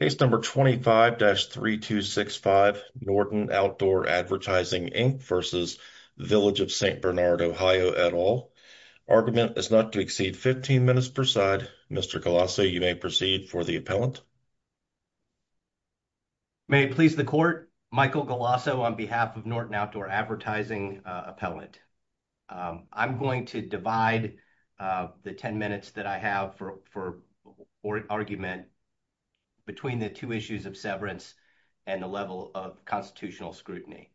Case number 25-3265 Norton Outdoor Advertising Inc versus Village of St Bernard OH at all. Argument is not to exceed 15 minutes per side. Mr. Galasso, you may proceed for the appellant. May it please the court, Michael Galasso on behalf of Norton Outdoor Advertising Appellant. I'm going to divide the 10 minutes that I have for argument between the two issues of severance and the level of constitutional scrutiny.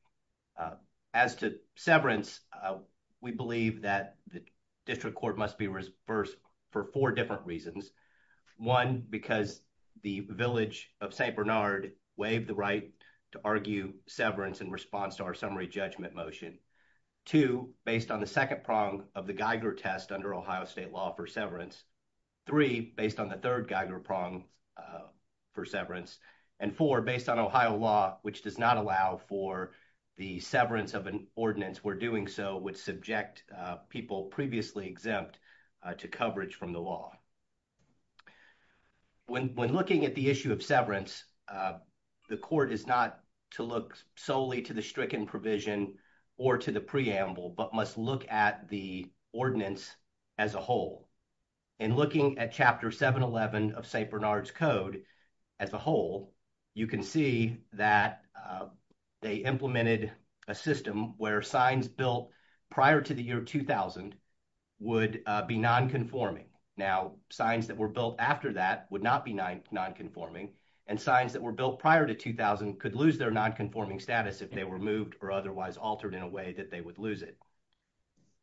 As to severance, we believe that the district court must be reversed for four different reasons. One, because the Village of St Bernard waived the right to argue severance in response to our summary judgment motion. Two, based on the second prong of the Geiger test under Ohio state law for severance. Three, based on the third Geiger prong for severance. And four, based on Ohio law, which does not allow for the severance of an ordinance, we're doing so would subject people previously exempt to coverage from the law. When looking at the issue of severance, the court is not to look solely to the stricken provision or to the preamble, but must look at the ordinance as a whole. And looking at chapter 711 of St Bernard's code as a whole, you can see that they implemented a system where signs built prior to the year 2000 would be nonconforming. Now, signs that were built after that would not be nonconforming. And signs that were built prior to 2000 could lose their nonconforming status if they were moved or otherwise altered in a way that they would lose it.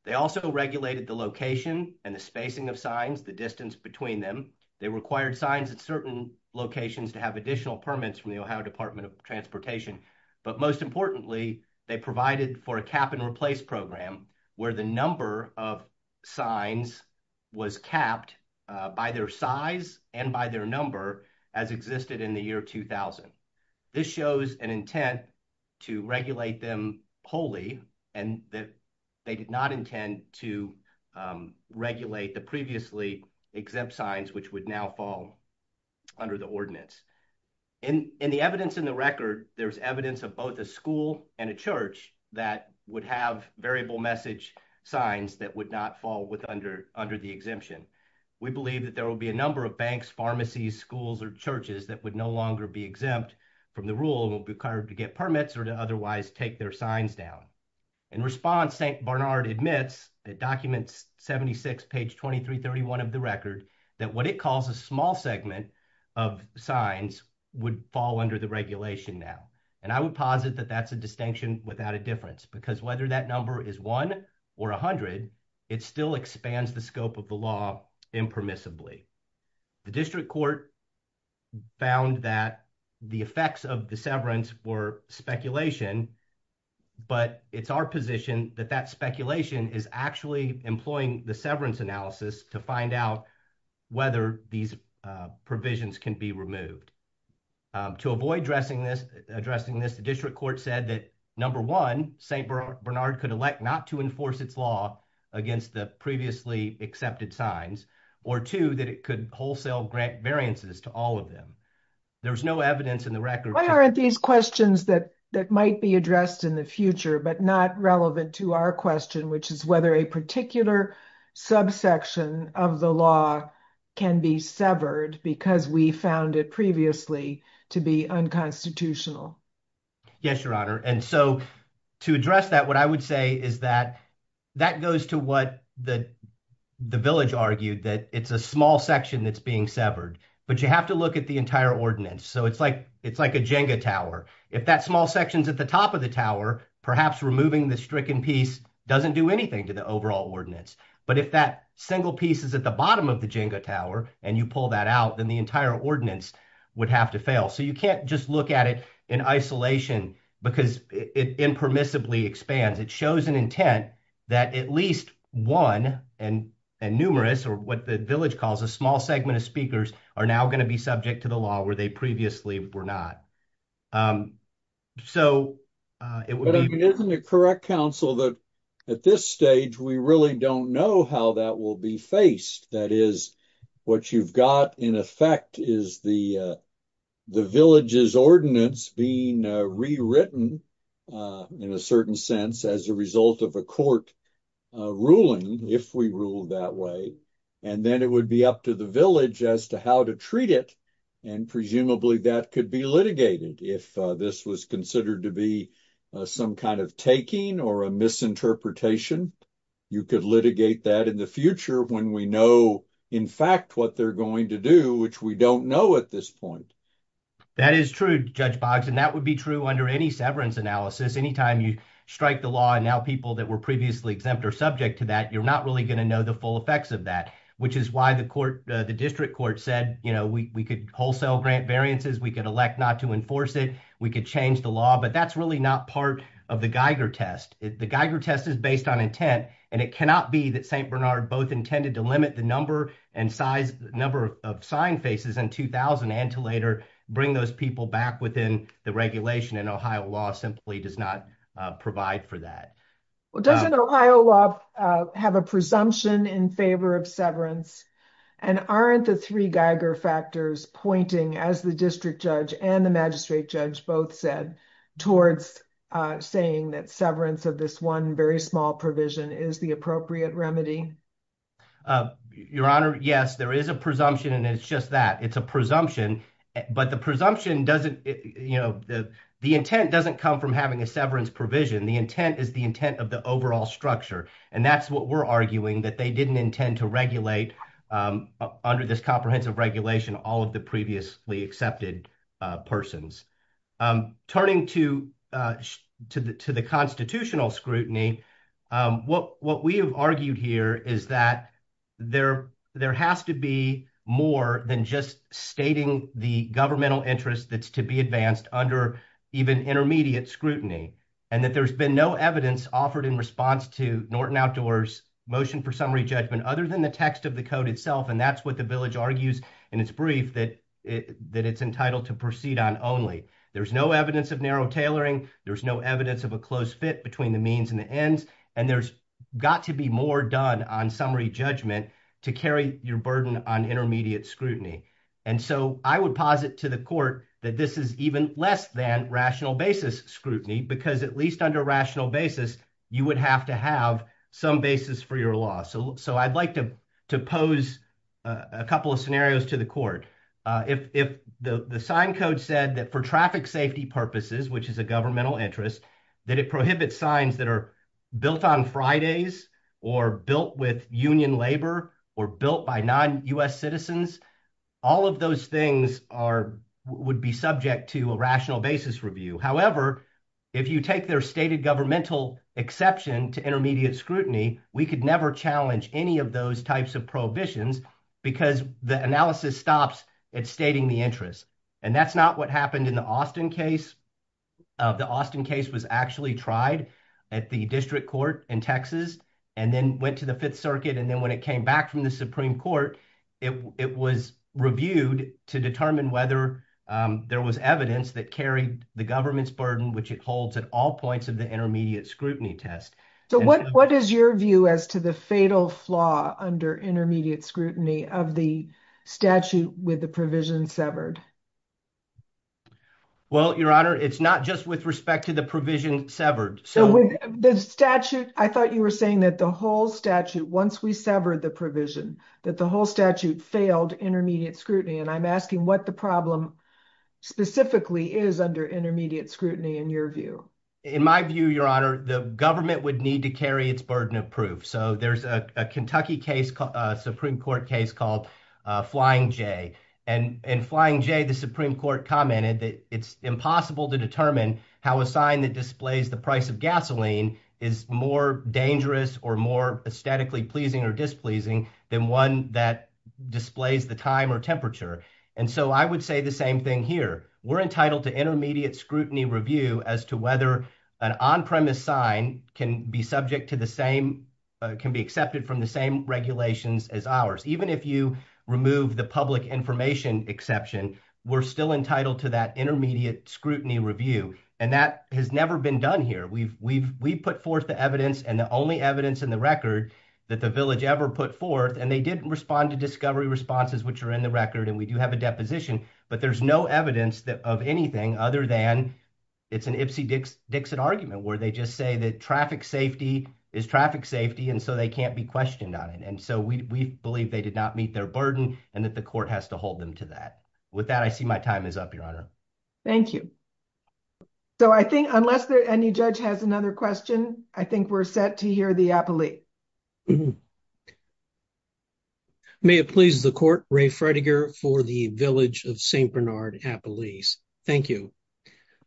They also regulated the location and the spacing of signs, the distance between them. They required signs at certain locations to have additional permits from the Ohio Department of Transportation. But most importantly, they provided for a cap and replace program where the number of signs was capped by their size and by their number as existed in the year 2000. This shows an intent to regulate them wholly and that they did not intend to regulate the previously exempt signs which would now fall under the ordinance. In the evidence in the record, there's evidence of both a school and a church that would have variable message signs that would not fall under the exemption. We believe that there will be a number of banks, pharmacies, schools, or churches that would no longer be exempt from the rule and will be required to get permits or to otherwise take their signs down. In response, St Bernard admits that document 76, page 2331 of the record, that what it calls a small segment of signs would fall under the regulation now. And I would posit that that's a distinction without a difference because whether that number is one or a hundred, it still expands the scope of the law impermissibly. The district court found that the effects of the severance were speculation, but it's our position that that speculation is actually employing the severance analysis to find out whether these provisions can be removed. To avoid addressing this, the district court said that number one, St Bernard could elect not to enforce its law against the previously accepted signs or two, that it could wholesale grant variances to all of them. There's no evidence in the record. Why aren't these questions that might be addressed in the future but not relevant to our which is whether a particular subsection of the law can be severed because we found it previously to be unconstitutional? Yes, your honor. And so to address that, what I would say is that that goes to what the village argued, that it's a small section that's being severed, but you have to look at the entire ordinance. So it's like a Jenga tower. If that small section's at the top of the tower, perhaps removing the stricken piece doesn't do anything to the overall ordinance. But if that single piece is at the bottom of the Jenga tower, and you pull that out, then the entire ordinance would have to fail. So you can't just look at it in isolation because it impermissibly expands. It shows an intent that at least one and numerous, or what the village calls a small segment of speakers, are now going to be subject to the ordinance. But it isn't a correct counsel that at this stage, we really don't know how that will be faced. That is, what you've got in effect is the village's ordinance being rewritten in a certain sense as a result of a court ruling, if we rule that way. And then it would be up to village as to how to treat it. And presumably that could be litigated. If this was considered to be some kind of taking or a misinterpretation, you could litigate that in the future when we know in fact what they're going to do, which we don't know at this point. That is true, Judge Boggs. And that would be true under any severance analysis. Anytime you strike the law, and now people that were previously exempt are subject to that, you're not really going to know the full effects of that, which is why the district court said we could wholesale grant variances, we could elect not to enforce it, we could change the law, but that's really not part of the Geiger test. The Geiger test is based on intent, and it cannot be that St. Bernard both intended to limit the number of sign faces in 2000 and to later bring those people back within the regulation, and Ohio law simply does not provide for that. Well, doesn't Ohio law have a presumption in favor of severance, and aren't the three Geiger factors pointing, as the district judge and the magistrate judge both said, towards saying that severance of this one very small provision is the appropriate remedy? Your Honor, yes, there is a presumption, and it's just that. It's a presumption, but the presumption doesn't, you know, the intent doesn't come from having a severance provision. The intent is the intent of the overall structure, and that's what we're arguing, that they didn't intend to regulate under this comprehensive regulation all of the previously accepted persons. Turning to the constitutional scrutiny, what we have argued here is that there has to be more than just stating the governmental interest that's to be advanced under even intermediate scrutiny, and that there's been no evidence offered in response to Norton Outdoors' motion for summary judgment other than the text of the code itself, and that's what the village argues in its brief, that it's entitled to proceed on only. There's no evidence of narrow tailoring. There's no evidence of a close fit between the means and the ends, and there's got to be more done on summary judgment to carry your burden on intermediate scrutiny, and so I would to the court that this is even less than rational basis scrutiny because at least under rational basis, you would have to have some basis for your law, so I'd like to pose a couple of scenarios to the court. If the sign code said that for traffic safety purposes, which is a governmental interest, that it prohibits signs that are built on Fridays or built with union labor or built by U.S. citizens, all of those things would be subject to a rational basis review. However, if you take their stated governmental exception to intermediate scrutiny, we could never challenge any of those types of prohibitions because the analysis stops at stating the interest, and that's not what happened in the Austin case. The Austin case was actually tried at the district court in Texas and then went to the Fifth Circuit, and then when it came back from the Supreme Court, it was reviewed to determine whether there was evidence that carried the government's burden, which it holds at all points of the intermediate scrutiny test. So what is your view as to the fatal flaw under intermediate scrutiny of the statute with the provision severed? Well, Your Honor, it's not just with respect to the provision severed. The statute, I thought you were saying that the whole statute, once we severed the provision, that the whole statute failed intermediate scrutiny, and I'm asking what the problem specifically is under intermediate scrutiny in your view. In my view, Your Honor, the government would need to carry its burden of proof. So there's a Kentucky Supreme Court case called Flying J. In Flying J, the Supreme Court commented that it's impossible to determine how a sign that displays the price of gasoline is more dangerous or more aesthetically pleasing or displeasing than one that displays the time or temperature. And so I would say the same thing here. We're entitled to intermediate scrutiny review as to whether an on-premise sign can be accepted from the same regulations as ours. Even if you remove the public information exception, we're still entitled to that intermediate scrutiny review. And that has never been done here. We've put forth the evidence and the only evidence in the record that the village ever put forth, and they didn't respond to discovery responses, which are in the record, and we do have a deposition, but there's no evidence of anything other than it's an Ipsy Dixit argument where they just say that traffic safety is traffic safety, and so they can't be questioned on it. And so we believe they did not meet their burden and that the court has to hold them to that. With that, I see my time is up, Your Honor. Thank you. So I think unless any judge has another question, I think we're set to hear the appellee. May it please the court, Ray Fredegar for the Village of St. Bernard Appellees. Thank you.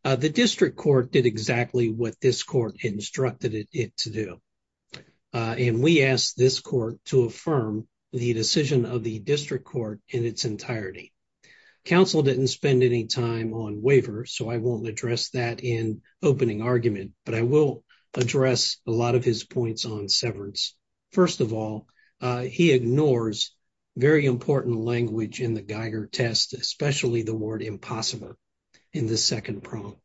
The district court did exactly what this court instructed it to do. And we asked this court to affirm the decision of the district court in its entirety. Counsel didn't spend any time on waiver, so I won't address that in opening argument, but I will address a lot of his points on severance. First of all, he ignores very important language in the Geiger test, especially the word impossible in the second prong.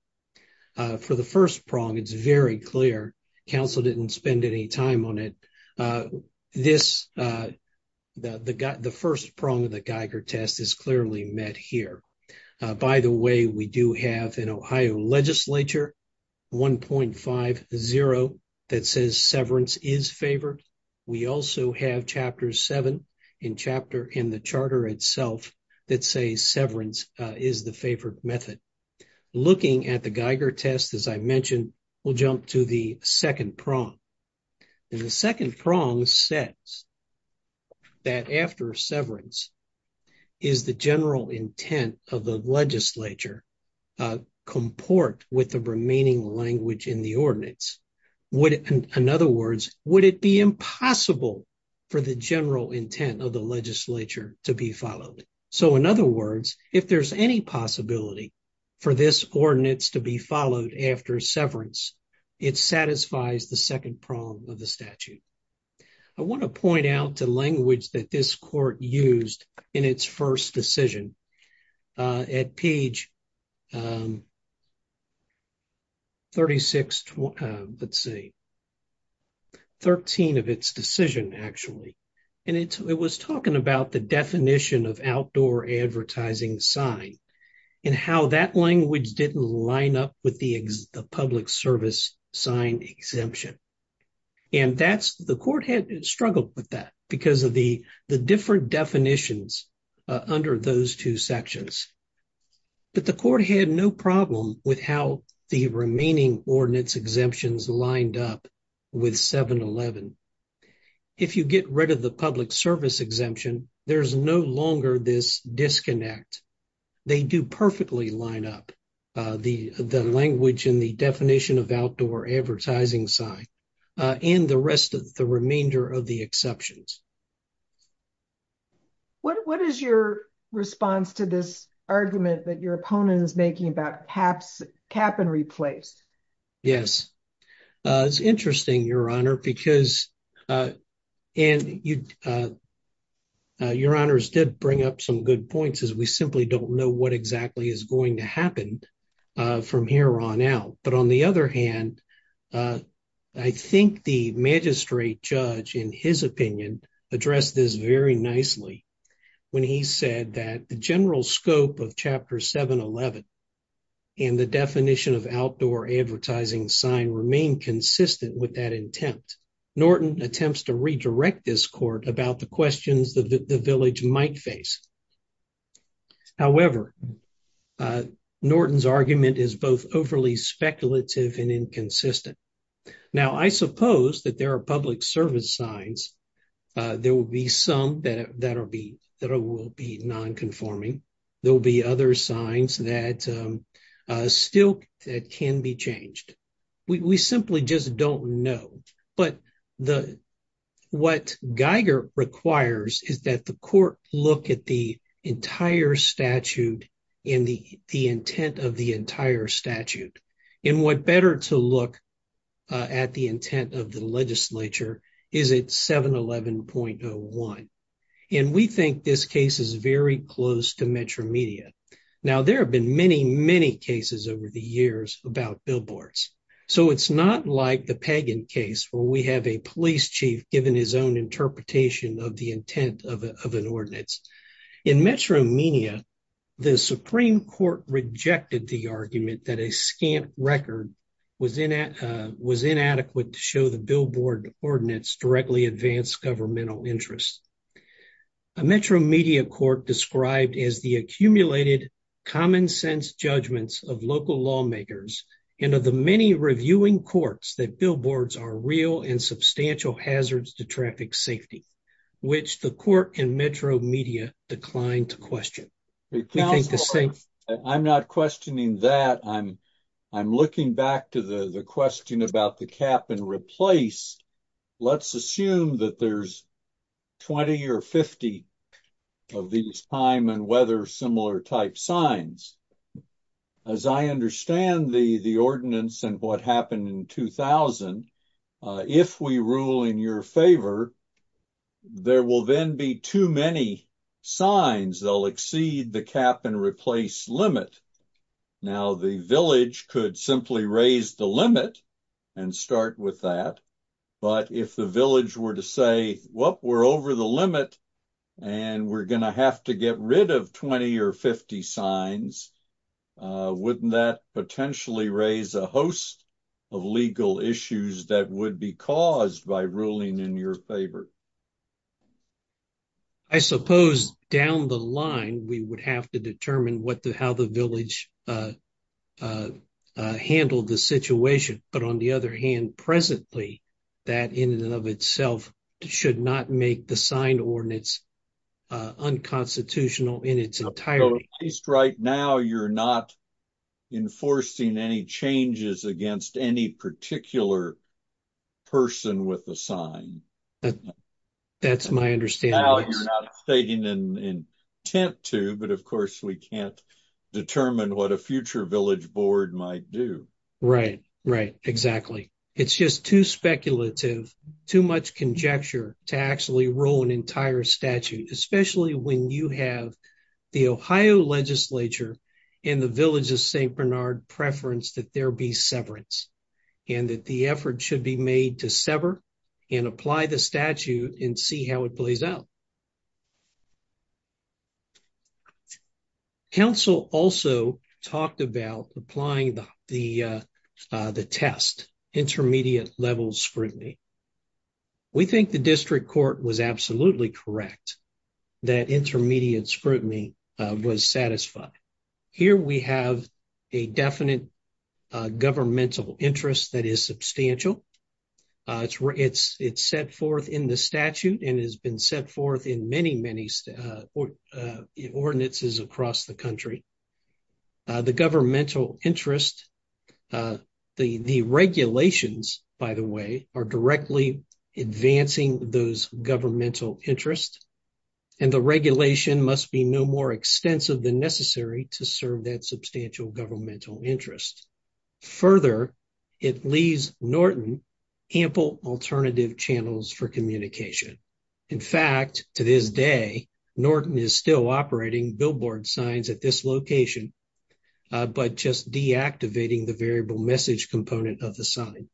For the first prong, it's very clear. Counsel didn't spend any time on it. The first prong of the Geiger test is clearly met here. By the way, we do have an Ohio legislature, 1.50, that says severance is favored. We also have chapter seven in the charter itself that says severance is the favored method. Looking at the Geiger test, as I mentioned, we'll jump to the second prong. And the second prong says that after severance, is the general intent of the legislature comport with the remaining language in the ordinance? In other words, would it be impossible for the general intent of the legislature to be followed? So in other words, if there's any possibility for this ordinance to be followed after severance, it satisfies the second prong of the statute. I want to point out the language that this court used in its first decision at page 36, let's see, 13 of its decision, actually. And it was talking about the definition of advertising sign and how that language didn't line up with the public service sign exemption. And that's, the court had struggled with that because of the different definitions under those two sections. But the court had no problem with how the remaining ordinance exemptions lined up with 711. If you get rid of the public service exemption, there's no longer this disconnect. They do perfectly line up the language and the definition of outdoor advertising sign and the rest of the remainder of the exceptions. What is your response to this argument that your opponent is making about caps, cap and replace? Yes, it's interesting, your honor, because, and you, your honors did bring up some good points as we simply don't know what exactly is going to happen from here on out. But on the other hand, I think the magistrate judge, in his opinion, addressed this very nicely when he said that general scope of chapter 711 and the definition of outdoor advertising sign remain consistent with that intent. Norton attempts to redirect this court about the questions that the village might face. However, Norton's argument is both overly speculative and inconsistent. Now, I suppose that there are public service signs. There will be some that will be non-conforming. There will be other signs that still can be changed. We simply just don't know. But what Geiger requires is that the court look at the entire statute and the intent of the entire at the intent of the legislature, is it 711.01? And we think this case is very close to metromedia. Now, there have been many, many cases over the years about billboards. So it's not like the Pagan case where we have a police chief given his own interpretation of the intent of an ordinance. In metromedia, the Supreme Court rejected the argument that a scant record was inadequate to show the billboard ordinance directly advanced governmental interests. A metromedia court described as the accumulated common sense judgments of local lawmakers and of the many reviewing courts that billboards are real and substantial hazards to traffic safety, which the court and metromedia declined to question. I'm not questioning that. I'm looking back to the question about the cap and replace. Let's assume that there's 20 or 50 of these time and weather similar type signs. As I understand the ordinance and what happened in 2000, if we rule in your favor, there will then be too many signs. They'll exceed the cap and replace limit. Now, the village could simply raise the limit and start with that. But if the village were to say, well, we're over the limit and we're going to have to get rid of 20 or 50 signs, wouldn't that potentially raise a host of legal issues that would be caused by ruling in your favor? I suppose down the line, we would have to determine how the village handled the situation. But on the other hand, presently, that in and of itself should not make the sign ordinance unconstitutional in its entirety. At least right now, you're not enforcing any changes against any particular person with a sign. That's my understanding. Now, you're not stating in intent to, but of course, we can't determine what a future village board might do. Right, exactly. It's just too speculative, too much conjecture to actually rule an entire statute, especially when you have the Ohio legislature and the village of St. Bernard preference that there be severance and that the effort should be made to sever and apply the statute and see how it plays out. Council also talked about applying the test, intermediate level scrutiny. We think the district court was absolutely correct that intermediate scrutiny was satisfied. Here, we have a definite governmental interest that is substantial. It's set forth in the statute and has been set forth in many, many ordinances across the country. The governmental interest, the regulations, by the way, are advancing those governmental interests and the regulation must be no more extensive than necessary to serve that substantial governmental interest. Further, it leaves Norton ample alternative channels for communication. In fact, to this day, Norton is still operating billboard signs at this location, but just deactivating the variable message component of the sign.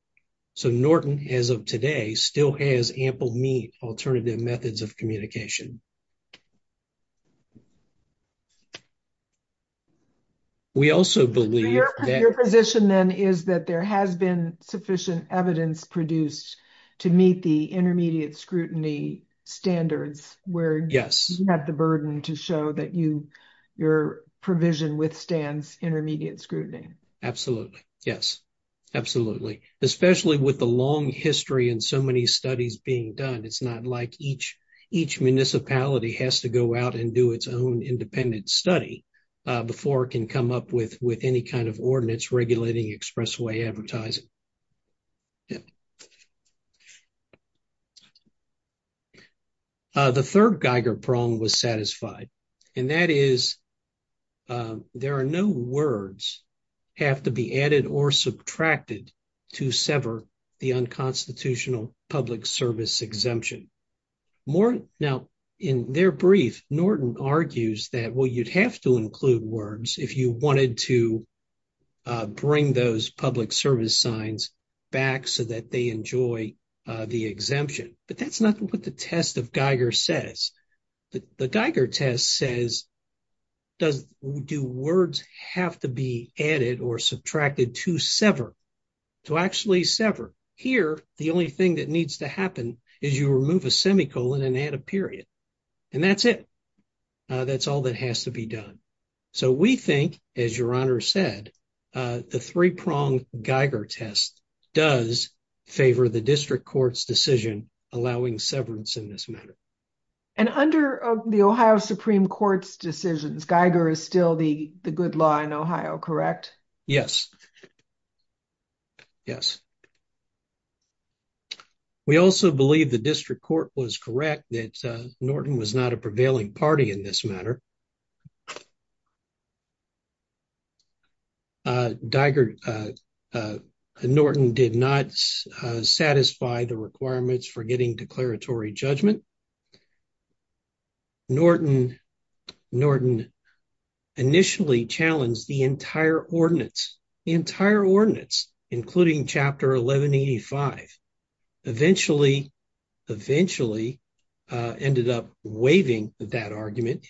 So Norton, as of today, still has ample mean alternative methods of communication. Your position then is that there has been sufficient evidence produced to meet the intermediate scrutiny standards where you have the burden to show that your provision withstands intermediate scrutiny. Absolutely. Yes, absolutely. Especially with the long history and so many studies being done, it's not like each municipality has to go out and do its own independent study before it can come up with any kind of ordinance regulating expressway advertising. The third Geiger prong was satisfied and that is there are no words have to be added or subtracted to sever the unconstitutional public service exemption. Now, in their brief, Norton argues that, well, you'd have to include words if you wanted to bring those public service signs back so that they enjoy the exemption, but that's not what the test of Geiger says. The Geiger test says, do words have to be added or subtracted to sever, to actually sever. Here, the only thing that needs to happen is you remove a semicolon and add a period. And that's it. That's all that has to be done. So, we think, as your honor said, the three-prong Geiger test does favor the district court's decision allowing severance in this matter. And under the Ohio Supreme Court's decisions, Geiger is still the good law in Ohio, correct? Yes. Yes. We also believe the district court was correct that Norton was not a prevailing party in this matter. Norton did not satisfy the requirements for getting declaratory judgment. Norton initially challenged the entire ordinance, including chapter 1185. Eventually, ended up waiving that argument.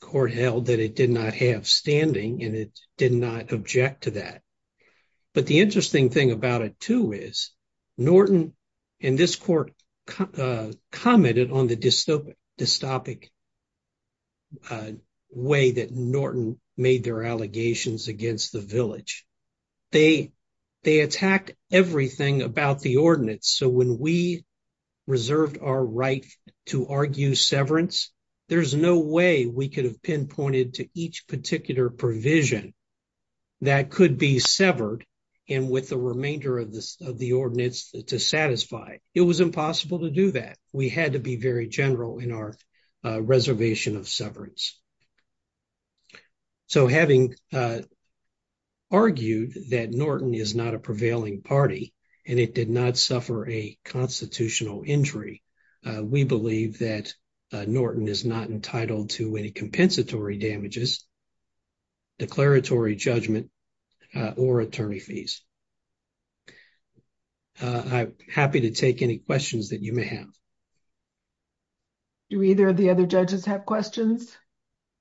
Court held that it did not have standing and it did not object to that. But the interesting thing about it, too, is Norton and this court commented on the dystopic way that Norton made their allegations against the village. They attacked everything about the ordinance. So, when we reserved our right to argue severance, there's no way we could have pinpointed to each particular provision that could be severed and with the remainder of the ordinance to satisfy. It was impossible to do that. We had to be very general in our reservation of severance. So, having argued that Norton is not a prevailing party and it did not suffer a constitutional injury, we believe that Norton is not entitled to any compensatory damages, declaratory judgment, or attorney fees. I'm happy to take any questions that you may have. Do either of the other judges have questions?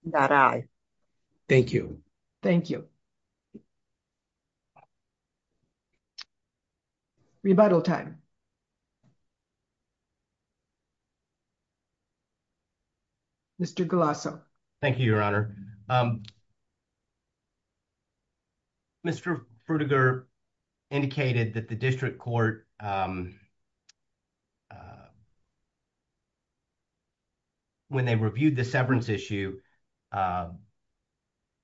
Not I. Thank you. Thank you. Rebuttal time. Mr. Golasso. Thank you, Your Honor. Mr. Frutiger indicated that the district court, when they reviewed the severance issue,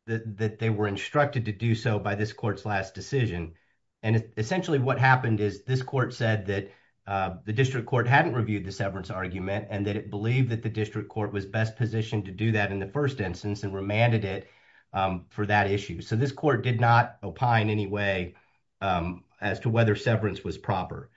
that they were instructed to do so by this court's last decision. And, essentially, what happened is this court said that the district court hadn't reviewed the severance argument and that it believed that the district court was best positioned to do that in the first instance and remanded it for that issue. So, this court did not opine in any way as to whether severance was proper.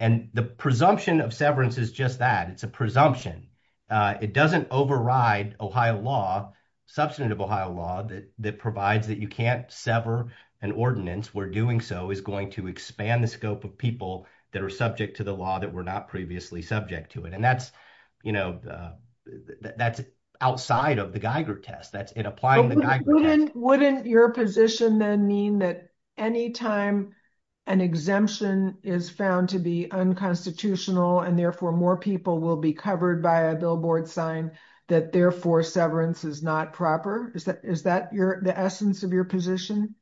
And the presumption of severance is just that. It's a presumption. It doesn't override Ohio law, substantive Ohio law, that provides that you can't sever an ordinance where doing so is going to expand the scope of subject to the law that were not previously subject to it. And that's outside of the Geiger test. That's in applying the Geiger test. Wouldn't your position then mean that any time an exemption is found to be unconstitutional and, therefore, more people will be covered by a billboard sign that, therefore, severance is not proper? Is that the essence of your position?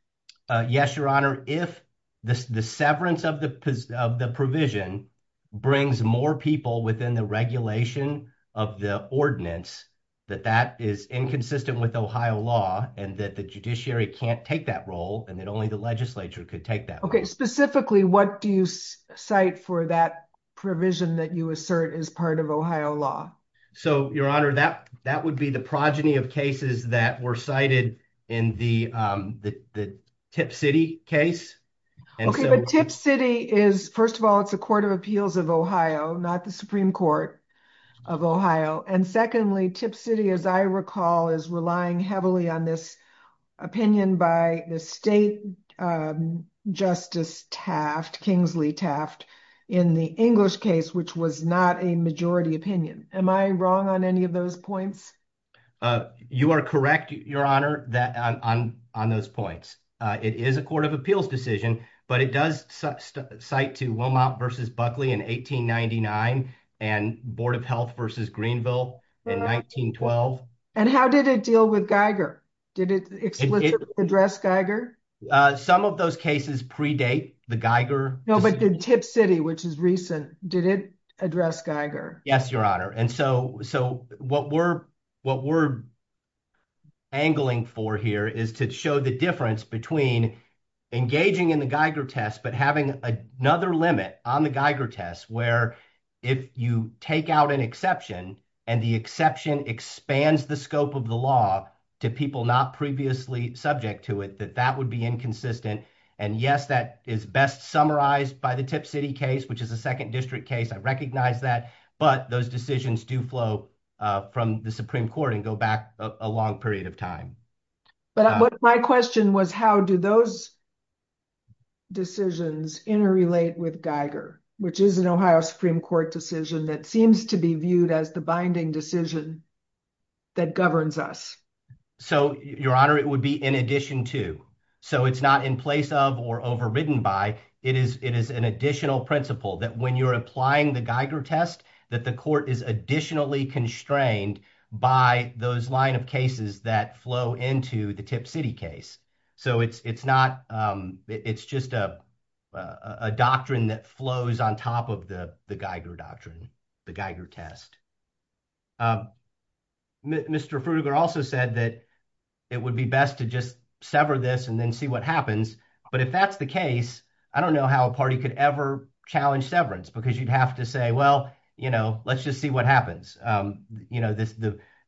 Yes, Your Honor. If the severance of the provision brings more people within the regulation of the ordinance, that that is inconsistent with Ohio law and that the judiciary can't take that role and that only the legislature could take that. Okay. Specifically, what do you cite for that provision that you assert is part of Ohio law? So, Your Honor, that would be the progeny of cases that were cited in the Tip City case. Okay. But Tip City is, first of all, it's a court of appeals of Ohio, not the Supreme Court of Ohio. And secondly, Tip City, as I recall, is relying heavily on this opinion by the state Justice Taft, Kingsley Taft, in the English case, which was not a majority opinion. Am I wrong on any of those points? You are correct, Your Honor, on those points. It is a court of appeals decision, but it does cite to Wilmot v. Buckley in 1899 and Board of Health v. Greenville in 1912. And how did it deal with Geiger? Did it explicitly address Geiger? Some of those cases predate the Geiger. No, but did Tip City, which is recent, did it address Geiger? Yes, Your Honor. And so what we're angling for here is to show the difference between engaging in the Geiger test, but having another limit on the Geiger test where if you take out an exception and the exception expands the scope of the law to people not previously subject to it, that that would be inconsistent. And yes, that is best summarized by the Tip City case, which is a second district case. I recognize that. But those decisions do flow from the Supreme Court and go back a long period of time. But my question was, how do those decisions interrelate with Geiger, which is an Ohio Supreme Court decision that seems to be viewed as the binding decision that governs us? So, Your Honor, it would be in addition to. So it's not in place of or overridden by. It is an additional principle that when you're applying the Geiger test, that the court is additionally constrained by those line of cases that flow into the Tip City case. So it's just a doctrine that flows on top of the Geiger doctrine, the Geiger test. Mr. Frueger also said that it would be best to just sever this and then see what happens. But if that's the case, I don't know how a party could ever challenge severance because you'd have to say, well, let's just see what happens.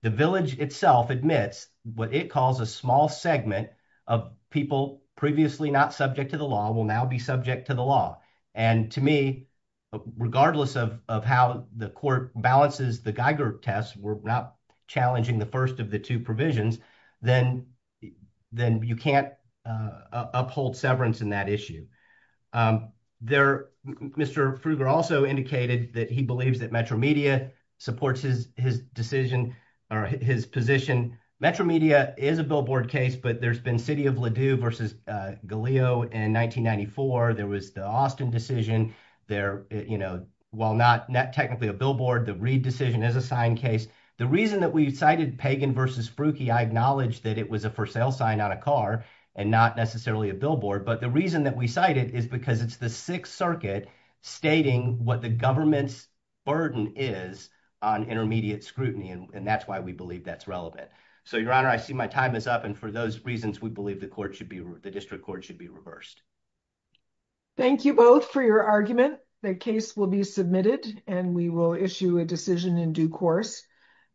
The village itself admits what it calls a small segment of people previously not subject to the law will now be subject to the law. And to me, regardless of how the court balances the Geiger test, we're not challenging the first of the two provisions. Then then you can't uphold severance in that issue. There, Mr. Frueger also indicated that he believes that Metro Media supports his decision or his position. Metro Media is a billboard case, but there's been City of Ladue versus Galeo in 1994. There was the Austin decision there. You know, while not technically a billboard, the Reid decision is a signed case. The reason that we cited Pagan versus Sprooky, I acknowledge that it was a for sale sign on a car and not necessarily a billboard. But the reason that we cite it is because it's the Sixth Circuit stating what the government's burden is on intermediate scrutiny. And that's why we believe that's relevant. So, Your Honor, I see my time is up. And for those reasons, we believe the court should be the district court should be reversed. Thank you both for your argument. The case will be submitted and we will issue a decision in due course.